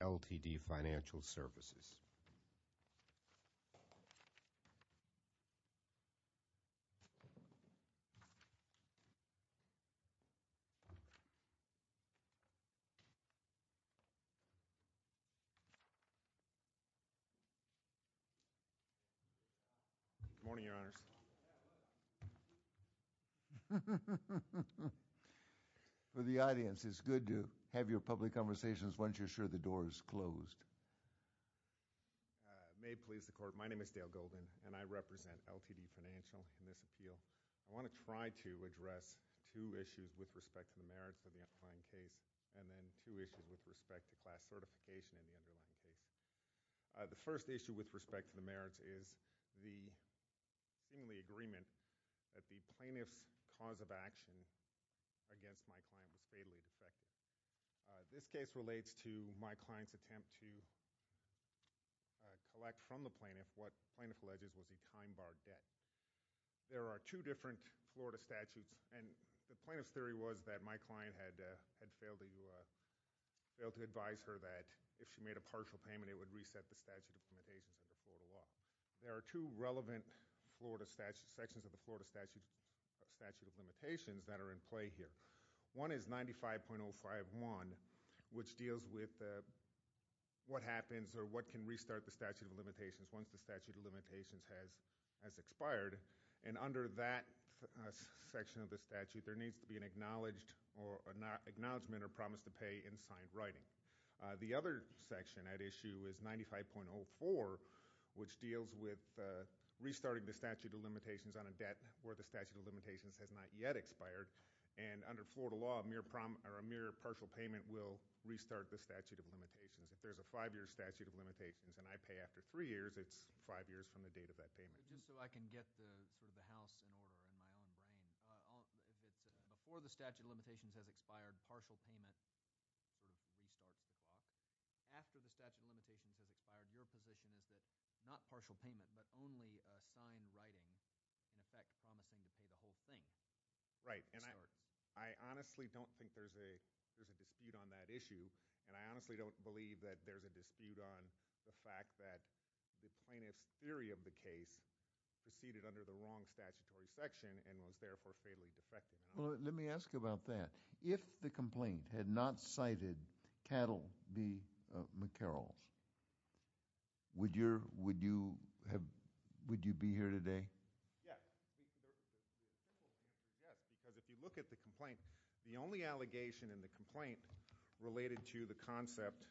L.T.D. Financial Services. Good morning, Your Honors. For the audience, it's good to have your public conversations once you're sure the door is closed. May it please the Court, my name is Dale Goldman and I represent L.T.D. Financial in this appeal. I want to try to address two issues with respect to the merits of the underlying case and then two issues with respect to class certification in the underlying case. The first issue with respect to the merits is the agreement that the plaintiff's cause of action against my client was fatally defective. This case relates to my client's attempt to collect from the plaintiff what the plaintiff alleges was a time-barred debt. There are two different Florida statutes, and the plaintiff's theory was that my client had failed to advise her that if she made a partial payment, it would reset the statute of limitations of the Florida law. There are two relevant sections of the Florida statute of limitations that are in play here. One is 95.051, which deals with what happens or what can restart the statute of limitations once the statute of limitations has expired. Under that section of the statute, there needs to be an acknowledgment or promise to pay in signed writing. The other section at issue is 95.04, which deals with restarting the statute of limitations on a debt where the statute of limitations has not yet expired. Under Florida law, a mere partial payment will restart the statute of limitations. If there's a 5-year statute of limitations and I pay after 3 years, it's 5 years from the date of that payment. Just so I can get the house in order in my own brain, before the statute of limitations has expired, partial payment restarts the block. After the statute of limitations has expired, your position is that not partial payment but only signed writing, in effect promising to pay the whole thing. Right. I honestly don't think there's a dispute on that issue, and I honestly don't believe that there's a dispute on the fact that the plaintiff's theory of the case proceeded under the wrong statutory section and was, therefore, fatally defective. Let me ask you about that. If the complaint had not cited Cattle v. McCarroll, would you be here today? Yes. Because if you look at the complaint, the only allegation in the complaint related to the concept,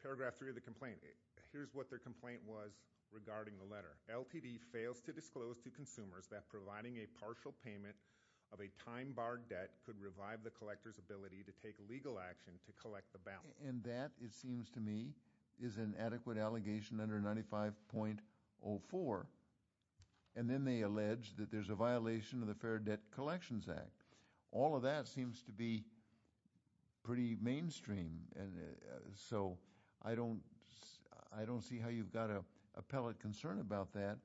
paragraph 3 of the complaint, here's what their complaint was regarding the letter. LTD fails to disclose to consumers that providing a partial payment of a time-barred debt could revive the collector's ability to take legal action to collect the balance. And that, it seems to me, is an adequate allegation under 95.04. And then they allege that there's a violation of the Fair Debt Collections Act. All of that seems to be pretty mainstream. So I don't see how you've got to appellate concern about that.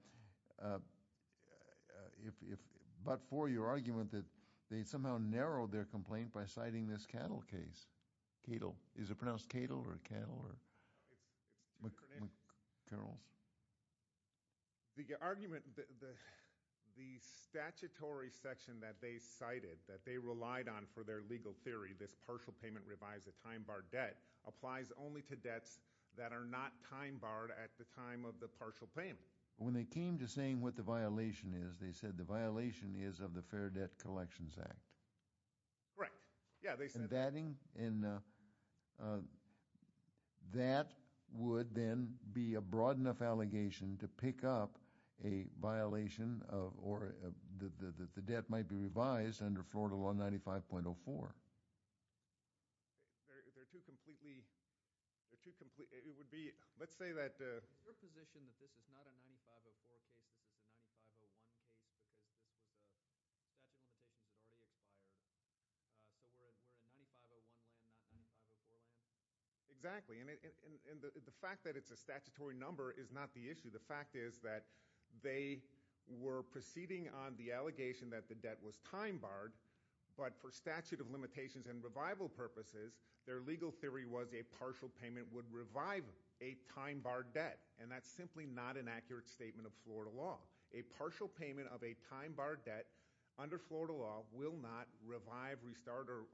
But for your argument that they somehow narrowed their complaint by citing this Cattle case. Cattle. Is it pronounced Cattle or Cattle or McCarrolls? The argument, the statutory section that they cited, that they relied on for their legal theory, this partial payment revives a time-barred debt, applies only to debts that are not time-barred at the time of the partial payment. When they came to saying what the violation is, they said the violation is of the Fair Debt Collections Act. Right. Yeah, they said that. And that would then be a broad enough allegation to pick up a violation of, or the debt might be revised under Florida Law 95.04. They're too completely, it would be, let's say that. Your position that this is not a 95.04 case, this is a 95.01 case, that the limitations had already expired. So we're in 95.01, not 95.04? Exactly. And the fact that it's a statutory number is not the issue. The fact is that they were proceeding on the allegation that the debt was time-barred, but for statute of limitations and revival purposes, their legal theory was a partial time-barred debt, and that's simply not an accurate statement of Florida Law. A partial payment of a time-barred debt under Florida Law will not revive, restart, or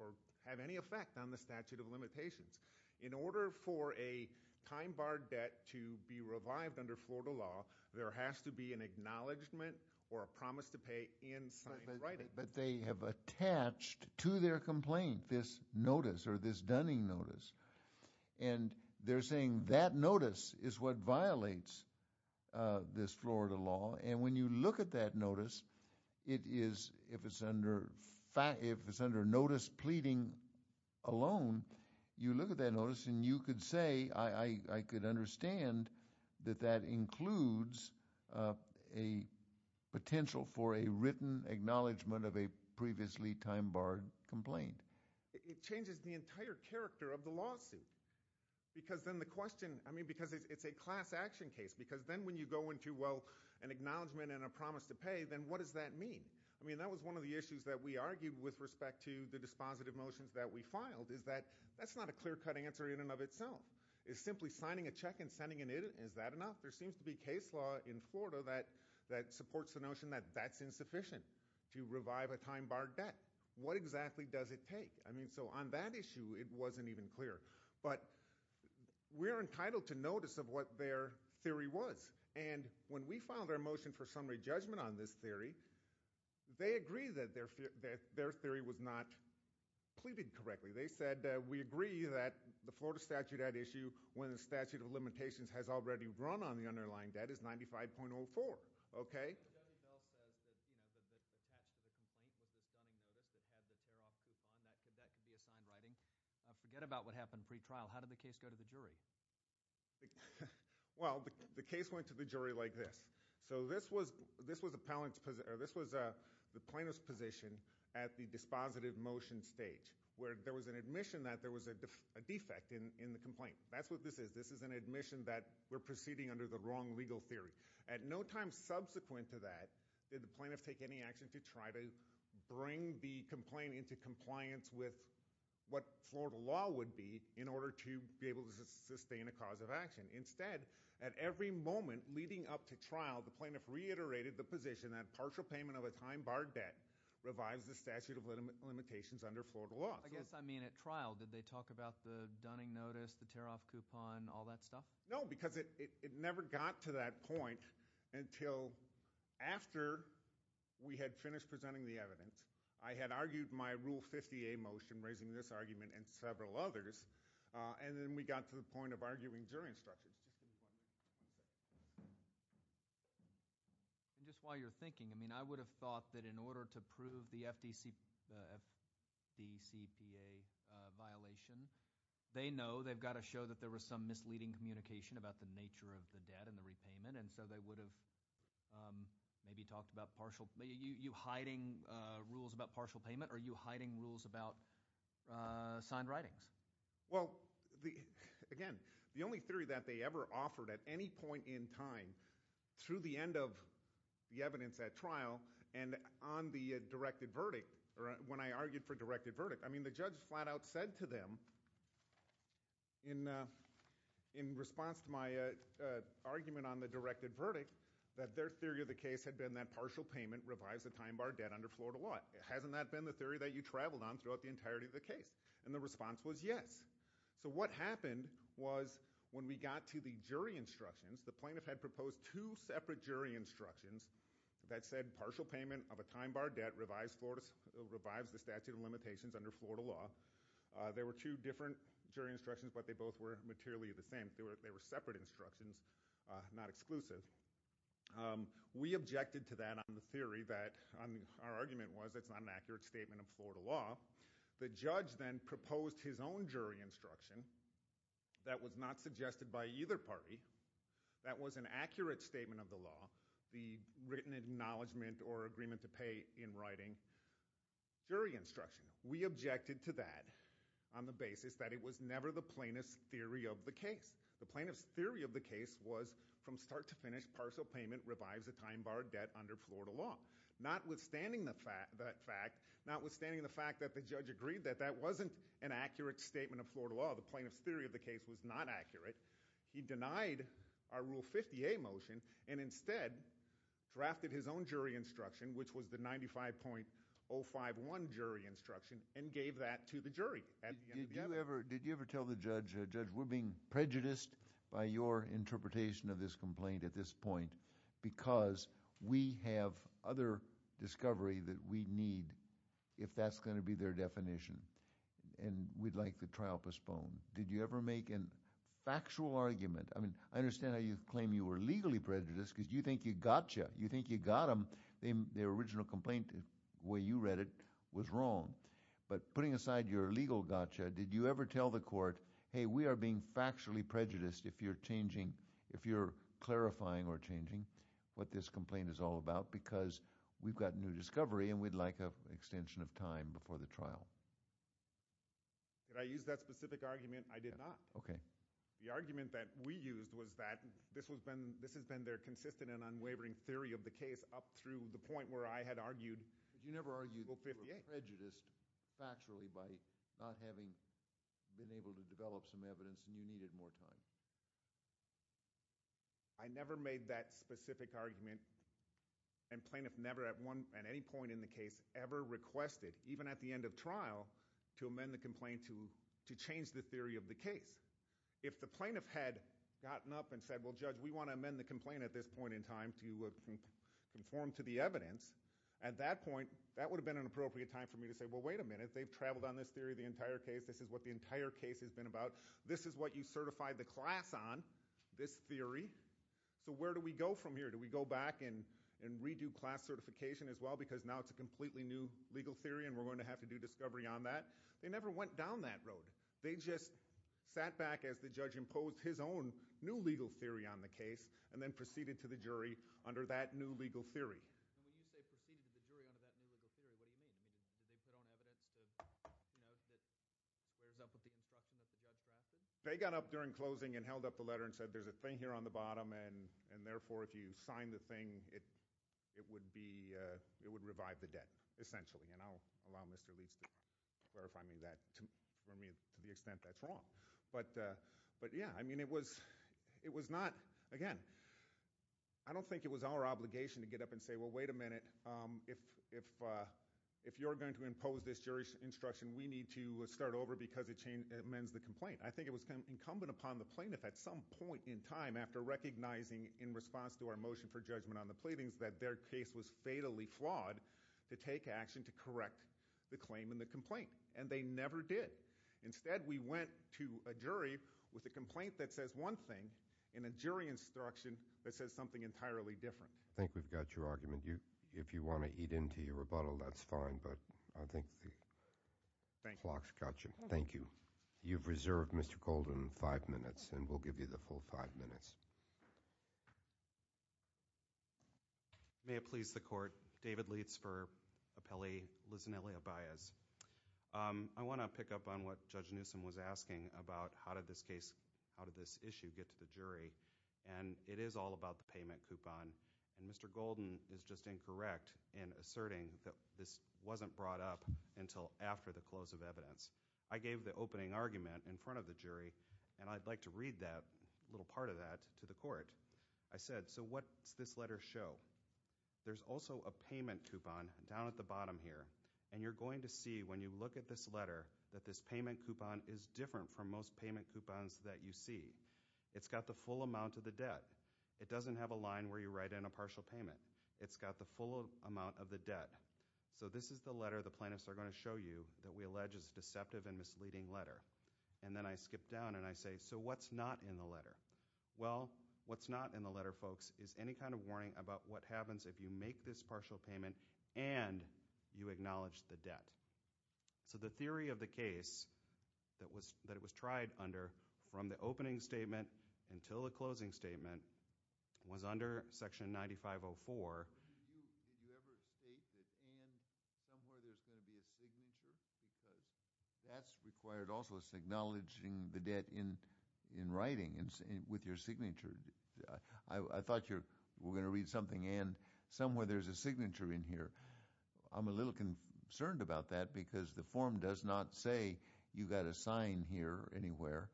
have any effect on the statute of limitations. In order for a time-barred debt to be revived under Florida Law, there has to be an acknowledgement or a promise to pay in signed writing. But they have attached to their complaint this notice, or this Dunning Notice, and they're saying that notice is what violates this Florida Law, and when you look at that notice, it is, if it's under notice pleading alone, you look at that notice and you could say, I could understand that that includes a potential for a written acknowledgement of a previously time-barred complaint. It changes the entire character of the lawsuit, because then the question—I mean, because it's a class action case, because then when you go into, well, an acknowledgement and a promise to pay, then what does that mean? I mean, that was one of the issues that we argued with respect to the dispositive motions that we filed, is that that's not a clear-cut answer in and of itself. It's simply signing a check and sending it in. Is that enough? There seems to be case law in Florida that supports the notion that that's insufficient to revive a time-barred debt. What exactly does it take? I mean, so on that issue, it wasn't even clear. But we are entitled to notice of what their theory was, and when we filed our motion for summary judgment on this theory, they agreed that their theory was not pleaded correctly. They said, we agree that the Florida statute at issue, when the statute of limitations has already run on the underlying debt, is 95.04, okay? Okay. Forget about what happened pre-trial. How did the case go to the jury? Well, the case went to the jury like this. So this was the plaintiff's position at the dispositive motion stage, where there was an admission that there was a defect in the complaint. That's what this is. This is an admission that we're proceeding under the wrong legal theory. At no time subsequent to that did the plaintiff take any action to try to bring the complaint into compliance with what Florida law would be in order to be able to sustain a cause of action. Instead, at every moment leading up to trial, the plaintiff reiterated the position that partial payment of a time-barred debt revives the statute of limitations under Florida law. I guess I mean at trial. Did they talk about the Dunning notice, the tear-off coupon, all that stuff? No, because it never got to that point until after we had finished presenting the evidence. I had argued my Rule 50A motion raising this argument and several others, and then we got to the point of arguing jury instructions. Just while you're thinking, I mean, I would have thought that in order to prove the FDCPA violation, they know they've got to show that there was some misleading communication about the nature of the debt and the repayment, and so they would have maybe talked about partial—are you hiding rules about partial payment, or are you hiding rules about signed writings? Well, again, the only theory that they ever offered at any point in time, through the end of the evidence at trial and on the directed verdict, when I argued for directed verdict, I mean, the judge flat out said to them in response to my argument on the directed verdict that their theory of the case had been that partial payment revives the time-barred debt under Florida law. Hasn't that been the theory that you traveled on throughout the entirety of the case? And the response was yes. So what happened was when we got to the jury instructions, the plaintiff had proposed two separate jury instructions that said partial payment of a time-barred debt revives the statute of limitations under Florida law. There were two different jury instructions, but they both were materially the same. They were separate instructions, not exclusive. We objected to that on the theory that—our argument was it's not an accurate statement of Florida law. The judge then proposed his own jury instruction that was not suggested by either party, that was an accurate statement of the law, the written acknowledgment or agreement to pay in writing jury instruction. We objected to that on the basis that it was never the plaintiff's theory of the case. The plaintiff's theory of the case was from start to finish, partial payment revives a time-barred debt under Florida law. Notwithstanding the fact that the judge agreed that that wasn't an accurate statement of Florida law, the plaintiff's theory of the case was not accurate, he denied our Rule 50A motion and instead drafted his own jury instruction, which was the 95.051 jury instruction, and gave that to the jury. Did you ever tell the judge, Judge, we're being prejudiced by your interpretation of this complaint at this point because we have other discovery that we need if that's going to be their definition, and we'd like the trial postponed. Did you ever make a factual argument? I mean, I understand how you claim you were legally prejudiced because you think you got you. You think you got them. The original complaint, the way you read it, was wrong. But putting aside your legal gotcha, did you ever tell the court, hey, we are being factually prejudiced if you're changing, if you're clarifying or changing what this complaint is all about because we've got new discovery and we'd like an extension of time before the trial? Did I use that specific argument? I did not. Okay. The argument that we used was that this has been their consistent and unwavering theory of the case up through the point where I had argued. But you never argued that you were prejudiced factually by not having been able to develop some evidence and you needed more time. I never made that specific argument, and plaintiff never at any point in the case ever requested, even at the end of trial, to amend the complaint to change the theory of the case. If the plaintiff had gotten up and said, well, Judge, we want to amend the complaint at this point in time to conform to the evidence, at that point, that would have been an appropriate time for me to say, well, wait a minute. They've traveled on this theory the entire case. This is what the entire case has been about. This is what you certified the class on, this theory. So where do we go from here? Do we go back and redo class certification as well because now it's a completely new legal theory and we're going to have to do discovery on that? They never went down that road. They just sat back as the judge imposed his own new legal theory on the case and then proceeded to the jury under that new legal theory. When you say proceeded the jury under that new legal theory, what do you mean? Did they put on evidence that wears up with the instruction that the judge drafted? They got up during closing and held up the letter and said, there's a thing here on the bottom, and therefore, if you sign the thing, it would be – it would revive the debt, essentially. And I'll allow Mr. Leach to clarify that for me to the extent that's wrong. But yeah, I mean, it was not – again, I don't think it was our obligation to get up and say, well, wait a minute, if you're going to impose this jury instruction, we need to start over because it amends the complaint. I think it was incumbent upon the plaintiff at some point in time after recognizing in response to our motion for judgment on the pleadings that their case was fatally flawed to take action to correct the claim and the complaint. And they never did. Instead, we went to a jury with a complaint that says one thing and a jury instruction that says something entirely different. I think we've got your argument. If you want to eat into your rebuttal, that's fine, but I think the clock's got you. Thank you. You've reserved, Mr. Golden, five minutes, and we'll give you the full five minutes. May it please the Court. Thank you. David Leitz for Appellee Lizanella Baez. I want to pick up on what Judge Newsom was asking about how did this case – how did this issue get to the jury, and it is all about the payment coupon. And Mr. Golden is just incorrect in asserting that this wasn't brought up until after the close of evidence. I gave the opening argument in front of the jury, and I'd like to read that little part of that to the Court. I said, so what's this letter show? There's also a payment coupon down at the bottom here, and you're going to see when you look at this letter that this payment coupon is different from most payment coupons that you see. It's got the full amount of the debt. It doesn't have a line where you write in a partial payment. It's got the full amount of the debt. So this is the letter the plaintiffs are going to show you that we allege is a deceptive and misleading letter. And then I skip down and I say, so what's not in the letter? Well, what's not in the letter, folks, is any kind of warning about what happens if you make this partial payment and you acknowledge the debt. So the theory of the case that it was tried under from the opening statement until the closing statement was under Section 9504. Did you ever state that and somewhere there's going to be a signature? That's required also is acknowledging the debt in writing with your signature. I thought you were going to read something and somewhere there's a signature in here. I'm a little concerned about that because the form does not say you got a sign here anywhere.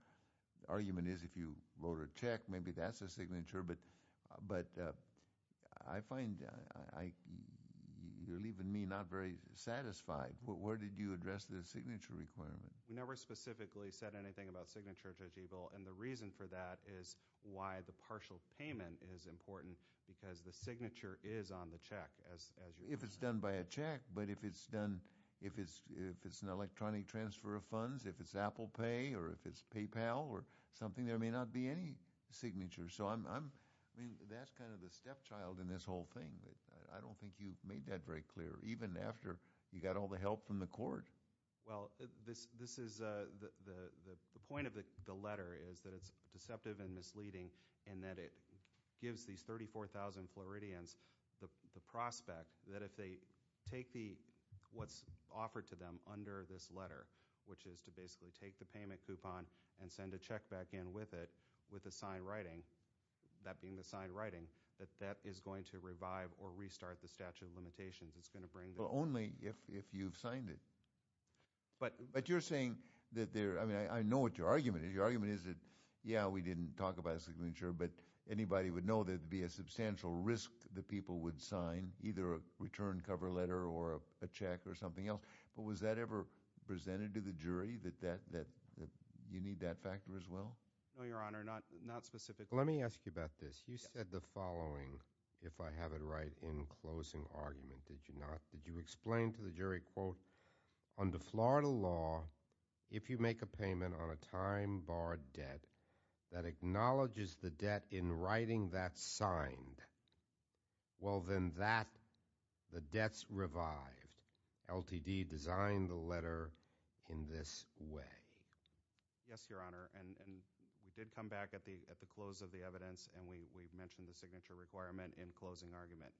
The argument is if you wrote a check, maybe that's a signature. But I find you're leaving me not very satisfied. Where did you address the signature requirement? We never specifically said anything about signature, Judge Eagle, and the reason for that is why the partial payment is important because the signature is on the check. If it's done by a check, but if it's done – if it's an electronic transfer of funds, if it's Apple Pay or if it's PayPal or something, there may not be any signature. So I'm – I mean, that's kind of the stepchild in this whole thing. I don't think you made that very clear even after you got all the help from the court. Well, this is – the point of the letter is that it's deceptive and misleading in that it gives these 34,000 Floridians the prospect that if they take the – what's offered to them under this letter, which is to basically take the payment coupon and send a check back in with it with a signed writing, that being the signed writing, that that is going to revive or restart the statute of limitations. It's going to bring the – Well, only if you've signed it. But – But you're saying that there – I mean, I know what your argument is. Your argument is that, yeah, we didn't talk about signature, but anybody would know there would be a substantial risk that people would sign either a return cover letter or a check or something else. But was that ever presented to the jury, that you need that factor as well? No, Your Honor, not specifically. Let me ask you about this. You said the following, if I have it right, in closing argument. Did you not? Did you explain to the jury, quote, under Florida law, if you make a payment on a time barred debt that acknowledges the debt in writing that's signed, well, then that – the debt's revived. LTD designed the letter in this way. Yes, Your Honor. And we did come back at the close of the evidence, and we mentioned the signature requirement in closing argument.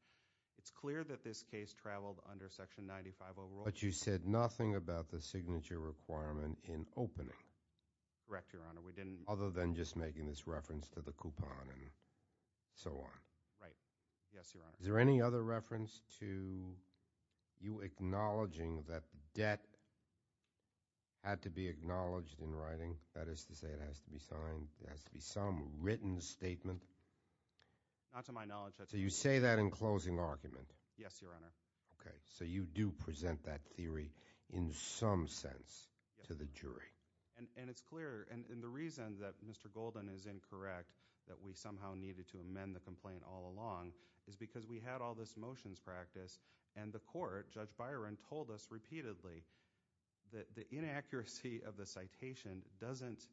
It's clear that this case traveled under Section 95 overall. But you said nothing about the signature requirement in opening. Correct, Your Honor. We didn't – Other than just making this reference to the coupon and so on. Right. Yes, Your Honor. Is there any other reference to you acknowledging that debt had to be acknowledged in writing, that is to say it has to be signed, it has to be some written statement? Not to my knowledge, Your Honor. So you say that in closing argument? Yes, Your Honor. Okay. So you do present that theory in some sense to the jury. And it's clear. And the reason that Mr. Golden is incorrect, that we somehow needed to amend the complaint all along, is because we had all this motions practice, and the court, Judge Byron, told us repeatedly that the inaccuracy of the citation doesn't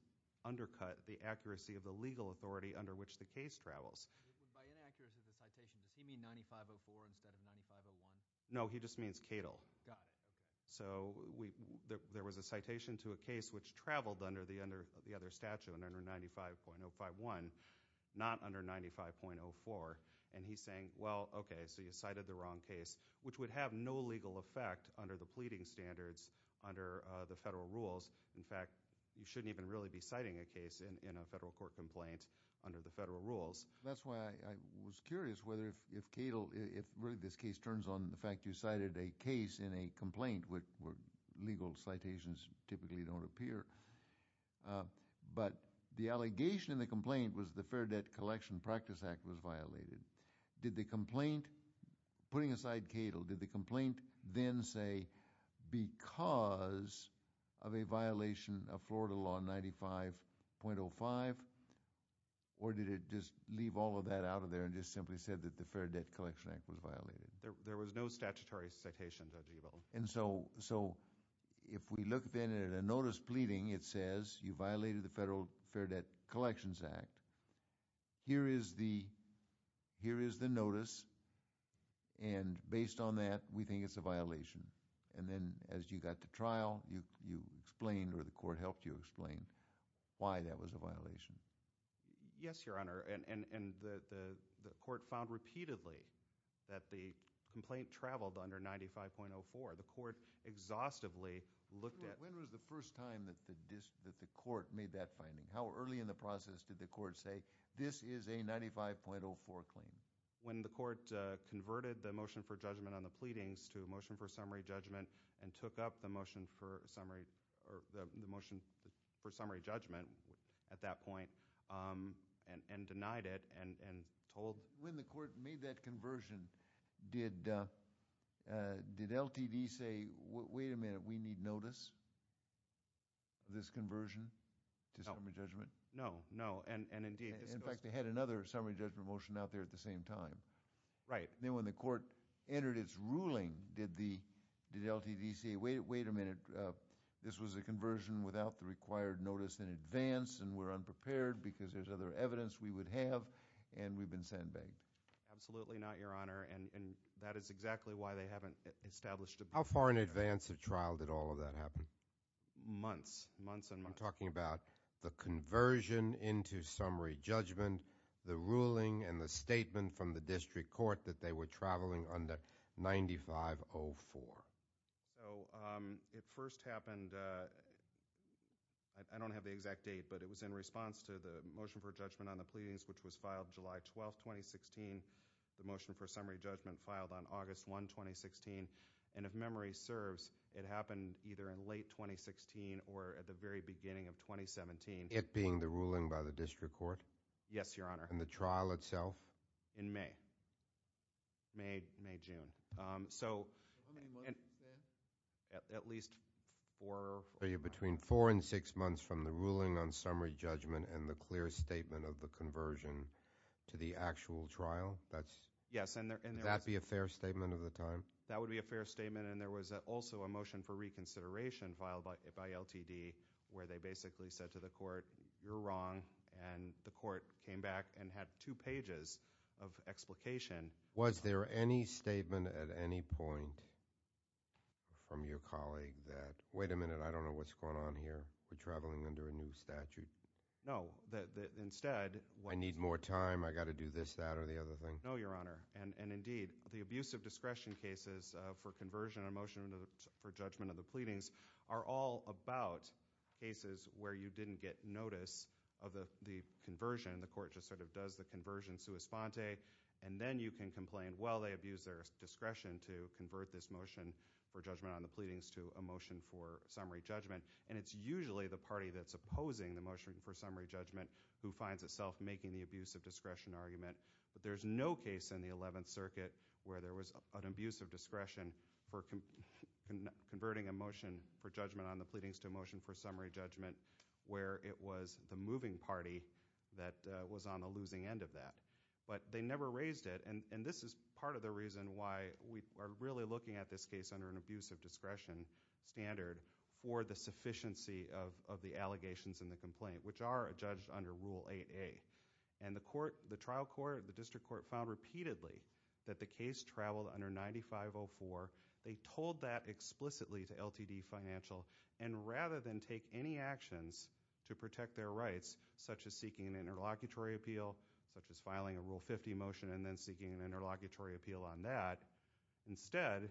undercut the accuracy of the legal authority under which the case travels. By inaccuracy of the citation, does he mean 9504 instead of 9501? No, he just means Cato. Got it. So there was a citation to a case which traveled under the other statute, under 95.051, not under 95.04. And he's saying, well, okay, so you cited the wrong case, which would have no legal effect under the pleading standards under the federal rules. In fact, you shouldn't even really be citing a case in a federal court complaint under the federal rules. That's why I was curious whether if Cato, if really this case turns on the fact you cited a case in a complaint where legal citations typically don't appear, but the allegation in the complaint was the Fair Debt Collection Practice Act was violated. Did the complaint, putting aside Cato, did the complaint then say because of a violation of Florida Law 95.05, or did it just leave all of that out of there and just simply said that the Fair Debt Collection Act was violated? There was no statutory citation, Judge Ebel. And so if we look then at a notice pleading, it says you violated the Federal Fair Debt Collections Act. Here is the notice. And based on that, we think it's a violation. And then as you got to trial, you explained or the court helped you explain why that was a violation. Yes, Your Honor. And the court found repeatedly that the complaint traveled under 95.04. The court exhaustively looked at— When was the first time that the court made that finding? How early in the process did the court say, this is a 95.04 claim? When the court converted the motion for judgment on the pleadings to a motion for summary judgment and took up the motion for summary judgment at that point and denied it and told— When the court made that conversion, did LTD say, wait a minute, we need notice of this summary judgment? No. And indeed— In fact, they had another summary judgment motion out there at the same time. Right. And then when the court entered its ruling, did LTD say, wait a minute, this was a conversion without the required notice in advance and we're unprepared because there's other evidence we would have and we've been sandbagged? Absolutely not, Your Honor. And that is exactly why they haven't established— How far in advance of trial did all of that happen? Months. Months and months. And I'm talking about the conversion into summary judgment, the ruling and the statement from the district court that they were traveling under 95.04. So it first happened—I don't have the exact date, but it was in response to the motion for judgment on the pleadings, which was filed July 12, 2016. The motion for summary judgment filed on August 1, 2016. And if memory serves, it happened either in late 2016 or at the very beginning of 2017. It being the ruling by the district court? Yes, Your Honor. And the trial itself? In May. May, June. So— How many months in? At least four— So you're between four and six months from the ruling on summary judgment and the clear statement of the conversion to the actual trial? That's— Yes, and there was— Would that be a fair statement of the time? That would be a fair statement, and there was also a motion for reconsideration filed by LTD where they basically said to the court, you're wrong, and the court came back and had two pages of explication. Was there any statement at any point from your colleague that, wait a minute, I don't know what's going on here, we're traveling under a new statute? No. Instead— I need more time, I got to do this, that, or the other thing? No, Your Honor. And indeed, the abuse of discretion cases for conversion and motion for judgment of the pleadings are all about cases where you didn't get notice of the conversion, the court just sort of does the conversion sua sponte, and then you can complain, well, they abused their discretion to convert this motion for judgment on the pleadings to a motion for summary judgment, and it's usually the party that's opposing the motion for summary judgment who finds itself making the abuse of discretion argument. But there's no case in the 11th Circuit where there was an abuse of discretion for converting a motion for judgment on the pleadings to a motion for summary judgment where it was the moving party that was on the losing end of that. But they never raised it, and this is part of the reason why we are really looking at this case under an abuse of discretion standard for the sufficiency of the allegations in the complaint, which are judged under Rule 8A. And the court, the trial court, the district court found repeatedly that the case traveled under 9504. They told that explicitly to LTD Financial, and rather than take any actions to protect their rights, such as seeking an interlocutory appeal, such as filing a Rule 50 motion and then seeking an interlocutory appeal on that, instead,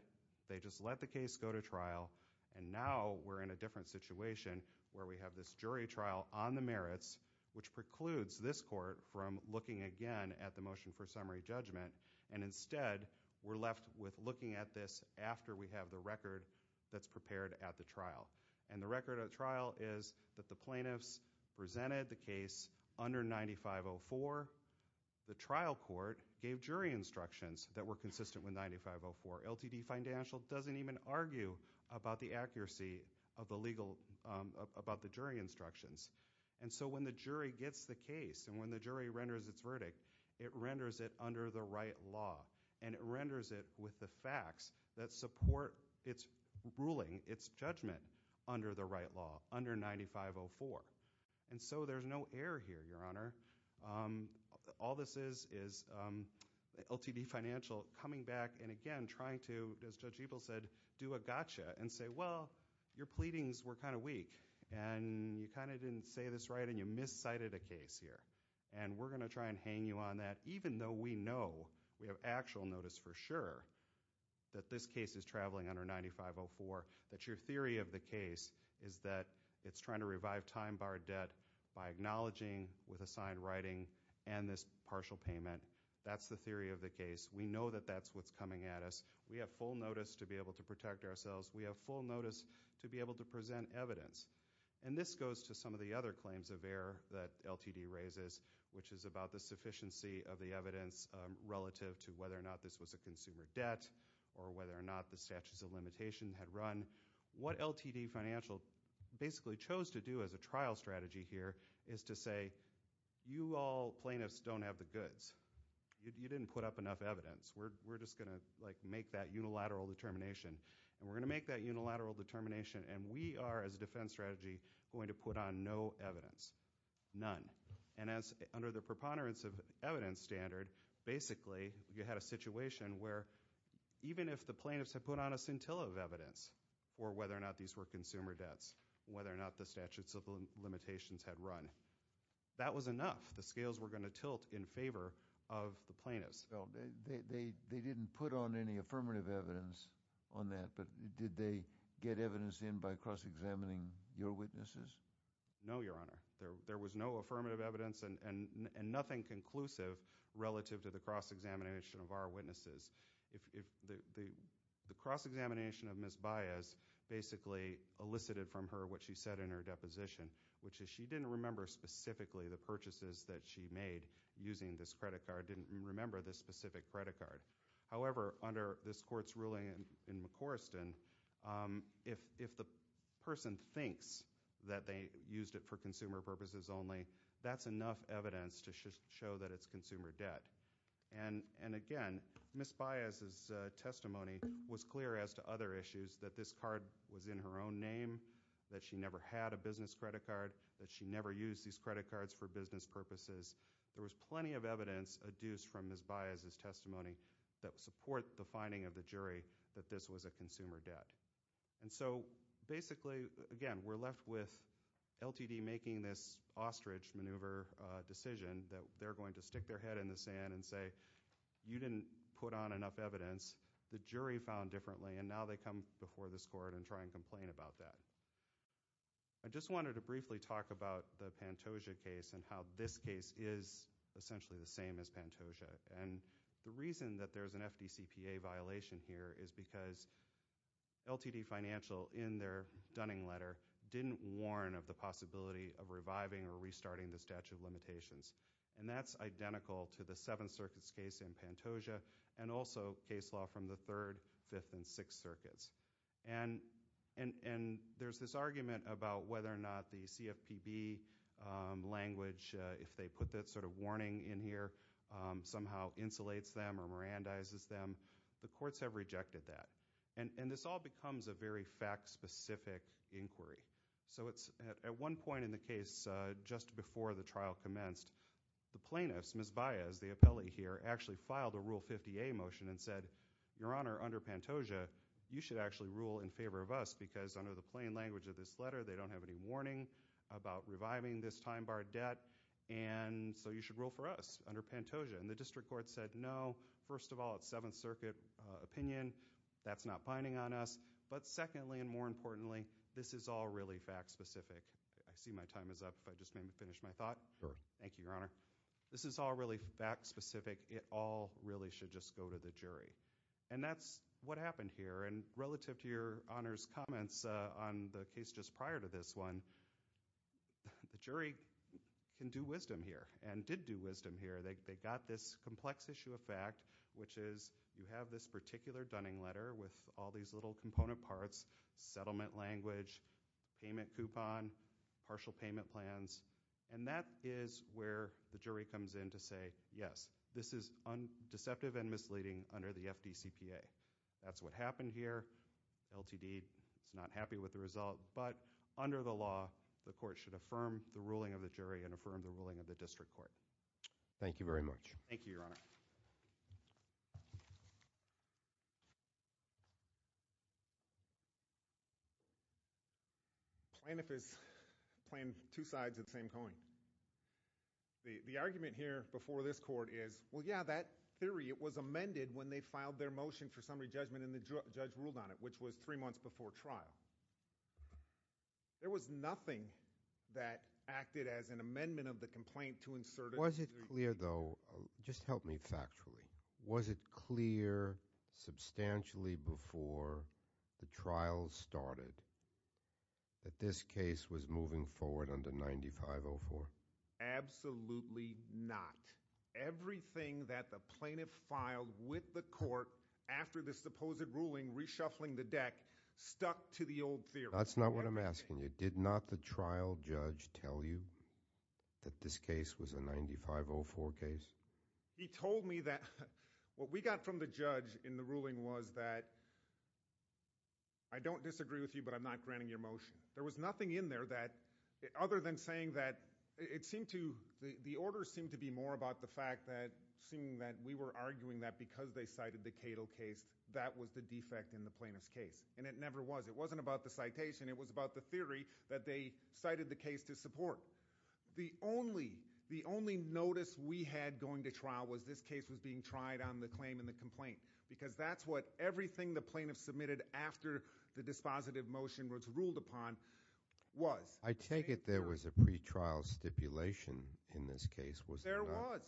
they just let the case go to trial, and now we're in a different situation where we have this jury trial on the merits which precludes this court from looking again at the motion for summary judgment, and instead, we're left with looking at this after we have the record that's prepared at the trial. And the record at trial is that the plaintiffs presented the case under 9504. The trial court gave jury instructions that were consistent with 9504. LTD Financial doesn't even argue about the accuracy of the legal, about the jury instructions. And so when the jury gets the case and when the jury renders its verdict, it renders it under the right law, and it renders it with the facts that support its ruling, its judgment under the right law, under 9504. And so there's no error here, Your Honor. All this is is LTD Financial coming back and, again, trying to, as Judge Ebel said, do a You didn't say this right, and you miscited a case here. And we're going to try and hang you on that, even though we know, we have actual notice for sure that this case is traveling under 9504, that your theory of the case is that it's trying to revive time-barred debt by acknowledging with assigned writing and this partial payment. That's the theory of the case. We know that that's what's coming at us. We have full notice to be able to protect ourselves. We have full notice to be able to present evidence. And this goes to some of the other claims of error that LTD raises, which is about the sufficiency of the evidence relative to whether or not this was a consumer debt or whether or not the statutes of limitation had run. What LTD Financial basically chose to do as a trial strategy here is to say, you all plaintiffs don't have the goods. You didn't put up enough evidence. We're just going to, like, make that unilateral determination. And we're going to make that unilateral determination. And we are, as a defense strategy, going to put on no evidence, none. And as under the preponderance of evidence standard, basically, you had a situation where even if the plaintiffs had put on a scintilla of evidence for whether or not these were consumer debts, whether or not the statutes of limitations had run, that was enough. The scales were going to tilt in favor of the plaintiffs. Well, they didn't put on any affirmative evidence on that, but did they get evidence in by cross-examining your witnesses? No, Your Honor. There was no affirmative evidence and nothing conclusive relative to the cross-examination of our witnesses. The cross-examination of Ms. Baez basically elicited from her what she said in her deposition, which is she didn't remember specifically the purchases that she made using this credit card, didn't remember this specific credit card. However, under this Court's ruling in McCorriston, if the person thinks that they used it for consumer purposes only, that's enough evidence to show that it's consumer debt. And, again, Ms. Baez's testimony was clear as to other issues, that this card was in her own name, that she never had a business credit card, that she never used these credit cards for business purposes. There was plenty of evidence adduced from Ms. Baez's testimony that support the finding of the jury that this was a consumer debt. And so, basically, again, we're left with LTD making this ostrich maneuver decision that they're going to stick their head in the sand and say, you didn't put on enough evidence, the jury found differently, and now they come before this Court and try and complain about that. I just wanted to briefly talk about the Pantoja case and how this case is essentially the same as Pantoja. And the reason that there's an FDCPA violation here is because LTD Financial, in their Dunning letter, didn't warn of the possibility of reviving or restarting the statute of limitations. And that's identical to the Seventh Circuit's case in Pantoja and also case law from the Third, Fifth, and Sixth Circuits. And there's this argument about whether or not the CFPB language, if they put that sort of warning in here, somehow insulates them or Mirandizes them. The courts have rejected that. And this all becomes a very fact-specific inquiry. So, at one point in the case, just before the trial commenced, the plaintiffs, Ms. Baez, the appellee here, actually filed a Rule 50A motion and said, Your Honor, under Pantoja, you should actually rule in favor of us, because under the plain language of this letter, they don't have any warning about reviving this time-barred debt, and so you should rule for us under Pantoja. And the district court said, No. First of all, it's Seventh Circuit opinion. That's not binding on us. But secondly, and more importantly, this is all really fact-specific. I see my time is up. If I just may finish my thought. Sure. Thank you, Your Honor. This is all really fact-specific. It all really should just go to the jury. And that's what happened here. And relative to Your Honor's comments on the case just prior to this one, the jury can do wisdom here and did do wisdom here. They got this complex issue of fact, which is you have this particular Dunning letter with all these little component parts, settlement language, payment coupon, partial payment plans, and that is where the jury comes in to say, Yes, this is deceptive and misleading under the FDCPA. That's what happened here. LTD is not happy with the result. But under the law, the court should affirm the ruling of the jury and affirm the ruling of the district court. Thank you very much. Thank you, Your Honor. Plaintiff has planned two sides of the same coin. The argument here before this court is, well, yeah, that theory, it was amended when they filed their motion for summary judgment and the judge ruled on it, which was three months before trial. There was nothing that acted as an amendment of the complaint to insert it. Was it clear, though, just help me factually, was it clear substantially before the trial started that this case was moving forward under 9504? Absolutely not. Everything that the plaintiff filed with the court after the supposed ruling reshuffling the deck stuck to the old theory. That's not what I'm asking you. Did not the trial judge tell you that this case was a 9504 case? He told me that what we got from the judge in the ruling was that I don't disagree with you, but I'm not granting your motion. There was nothing in there that, other than saying that it seemed to, the order seemed to be more about the fact that, seeing that we were arguing that because they cited the Cato case, that was the defect in the plaintiff's case. And it never was. It wasn't about the citation. It was about the theory that they cited the case to support. So the only notice we had going to trial was this case was being tried on the claim and the complaint, because that's what everything the plaintiff submitted after the dispositive motion was ruled upon was. I take it there was a pretrial stipulation in this case. There was.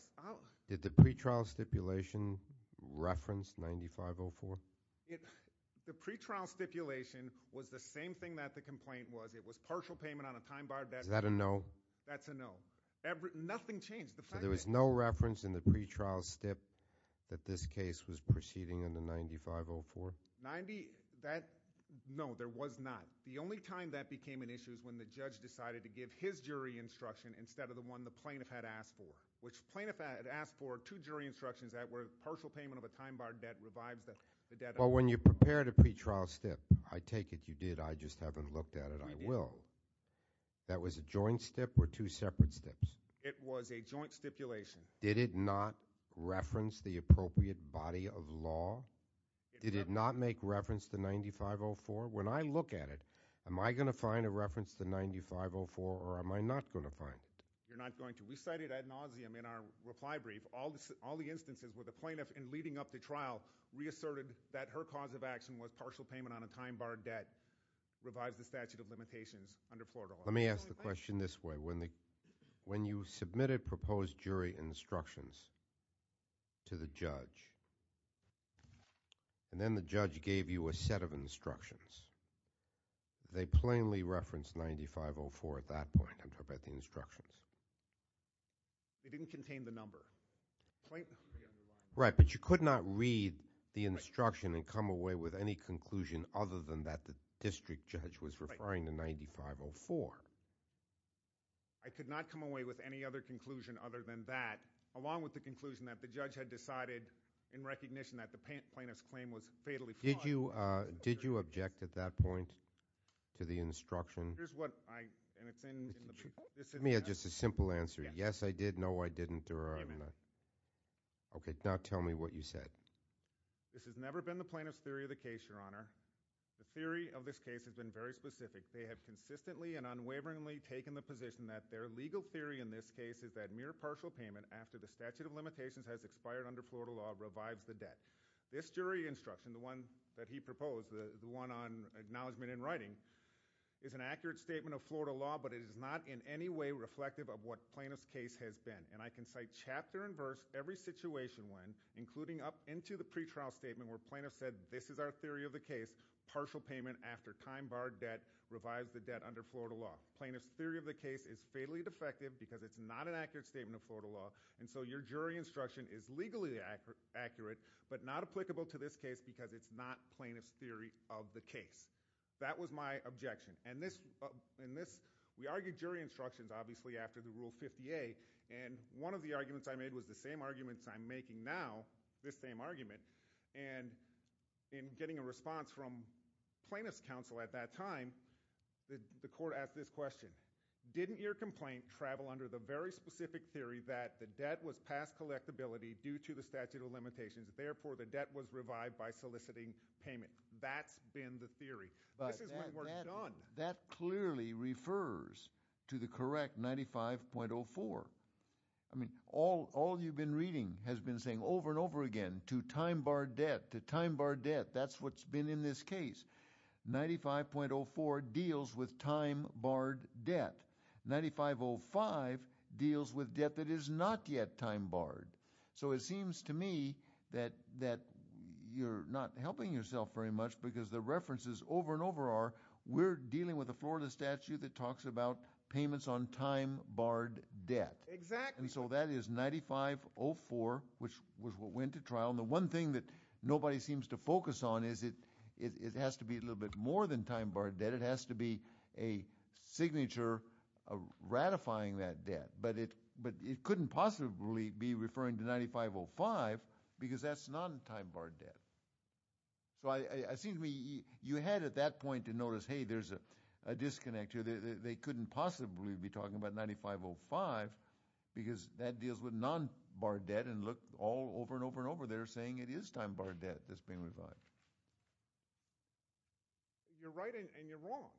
Did the pretrial stipulation reference 9504? The pretrial stipulation was the same thing that the complaint was. It was partial payment on a time-barred debt. Is that a no? That's a no. Nothing changed. So there was no reference in the pretrial stip that this case was proceeding under 9504? 90, that, no, there was not. The only time that became an issue is when the judge decided to give his jury instruction instead of the one the plaintiff had asked for, which the plaintiff had asked for two jury instructions that were partial payment of a time-barred debt revives the debt. Well, when you prepared a pretrial stip, I take it you did. I just haven't looked at it. I will. That was a joint stip or two separate stips? It was a joint stipulation. Did it not reference the appropriate body of law? Did it not make reference to 9504? When I look at it, am I going to find a reference to 9504 or am I not going to find it? You're not going to. We cited ad nauseum in our reply brief. All the instances where the plaintiff in leading up to trial reasserted that her cause of action was partial payment on a time-barred debt revives the statute of limitations under Florida law. Let me ask the question this way. When you submitted proposed jury instructions to the judge and then the judge gave you a set of instructions, did they plainly reference 9504 at that point? I'm talking about the instructions. They didn't contain the number. Right, but you could not read the instruction and come away with any conclusion other than that the district judge was referring to 9504. I could not come away with any other conclusion other than that, along with the conclusion that the judge had decided in recognition that the plaintiff's claim was fatally flawed. Did you object at that point to the instruction? Here's what I – and it's in the – Let me ask just a simple answer. Yes, I did. No, I didn't. Okay, now tell me what you said. This has never been the plaintiff's theory of the case, Your Honor. The theory of this case has been very specific. They have consistently and unwaveringly taken the position that their legal theory in this case is that mere partial payment after the statute of limitations has expired under Florida law revives the debt. This jury instruction, the one that he proposed, the one on acknowledgement in writing, is an accurate statement of Florida law, but it is not in any way reflective of what plaintiff's case has been. And I can cite chapter and verse every situation when, including up into the pretrial statement where plaintiff said this is our theory of the case, partial payment after time barred debt revives the debt under Florida law. Plaintiff's theory of the case is fatally defective because it's not an accurate statement of Florida law, and so your jury instruction is legally accurate but not applicable to this case because it's not plaintiff's theory of the case. That was my objection. And this, we argued jury instructions obviously after the Rule 50A, and one of the arguments I made was the same arguments I'm making now, this same argument, and in getting a response from plaintiff's counsel at that time, the court asked this question. Didn't your complaint travel under the very specific theory that the debt was past collectability due to the statute of limitations, therefore the debt was revived by soliciting payment? I think that's been the theory. This is what we're done. But that clearly refers to the correct 95.04. I mean all you've been reading has been saying over and over again to time barred debt, to time barred debt. That's what's been in this case. 95.04 deals with time barred debt. 95.05 deals with debt that is not yet time barred. So it seems to me that you're not helping yourself very much because the references over and over are we're dealing with a Florida statute that talks about payments on time barred debt. Exactly. And so that is 95.04, which was what went to trial. And the one thing that nobody seems to focus on is it has to be a little bit more than time barred debt. It has to be a signature ratifying that debt. But it couldn't possibly be referring to 95.05 because that's non-time barred debt. So it seems to me you had at that point to notice, hey, there's a disconnect here. They couldn't possibly be talking about 95.05 because that deals with non-barred debt and looked all over and over and over there saying it is time barred debt that's been revived. You're right and you're wrong.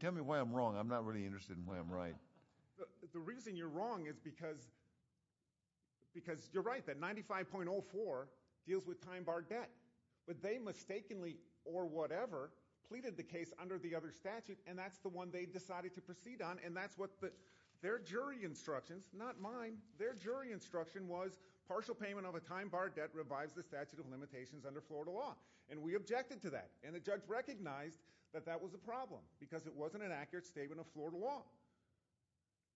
Tell me why I'm wrong. I'm not really interested in why I'm right. The reason you're wrong is because you're right that 95.04 deals with time barred debt. But they mistakenly or whatever pleaded the case under the other statute, and that's the one they decided to proceed on. And that's what their jury instructions, not mine, their jury instruction was partial payment of a time barred debt revives the statute of limitations under Florida law. And we objected to that. And the judge recognized that that was a problem because it wasn't an accurate statement of Florida law,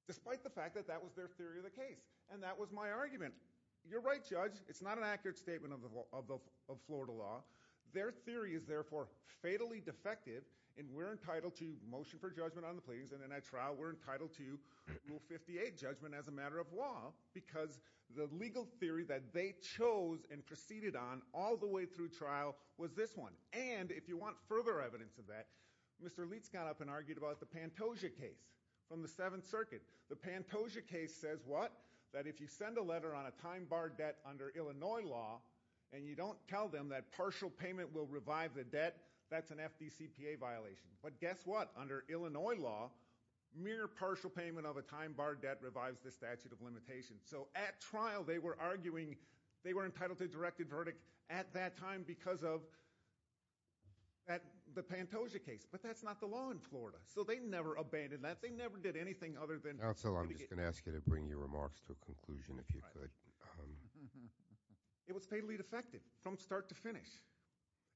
despite the fact that that was their theory of the case. And that was my argument. You're right, Judge. It's not an accurate statement of Florida law. Their theory is therefore fatally defective, and we're entitled to motion for judgment on the pleadings, and in that trial we're entitled to Rule 58 judgment as a matter of law because the legal theory that they chose and proceeded on all the way through trial was this one. And if you want further evidence of that, Mr. Leitz got up and argued about the Pantoja case from the Seventh Circuit. The Pantoja case says what? That if you send a letter on a time barred debt under Illinois law and you don't tell them that partial payment will revive the debt, that's an FDCPA violation. But guess what? Under Illinois law, mere partial payment of a time barred debt revives the statute of limitations. So at trial they were arguing they were entitled to a directed verdict at that time because of the Pantoja case. But that's not the law in Florida, so they never abandoned that. They never did anything other than – Counsel, I'm just going to ask you to bring your remarks to a conclusion if you could. It was fatally defective from start to finish,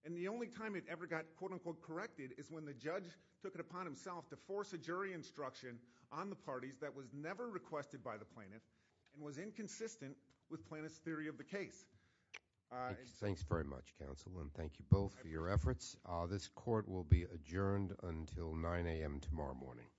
and the only time it ever got quote unquote corrected is when the judge took it upon himself to force a jury instruction on the parties that was never requested by the plaintiff and was inconsistent with plaintiff's theory of the case. Thanks very much, Counsel, and thank you both for your efforts. This court will be adjourned until 9 a.m. tomorrow morning.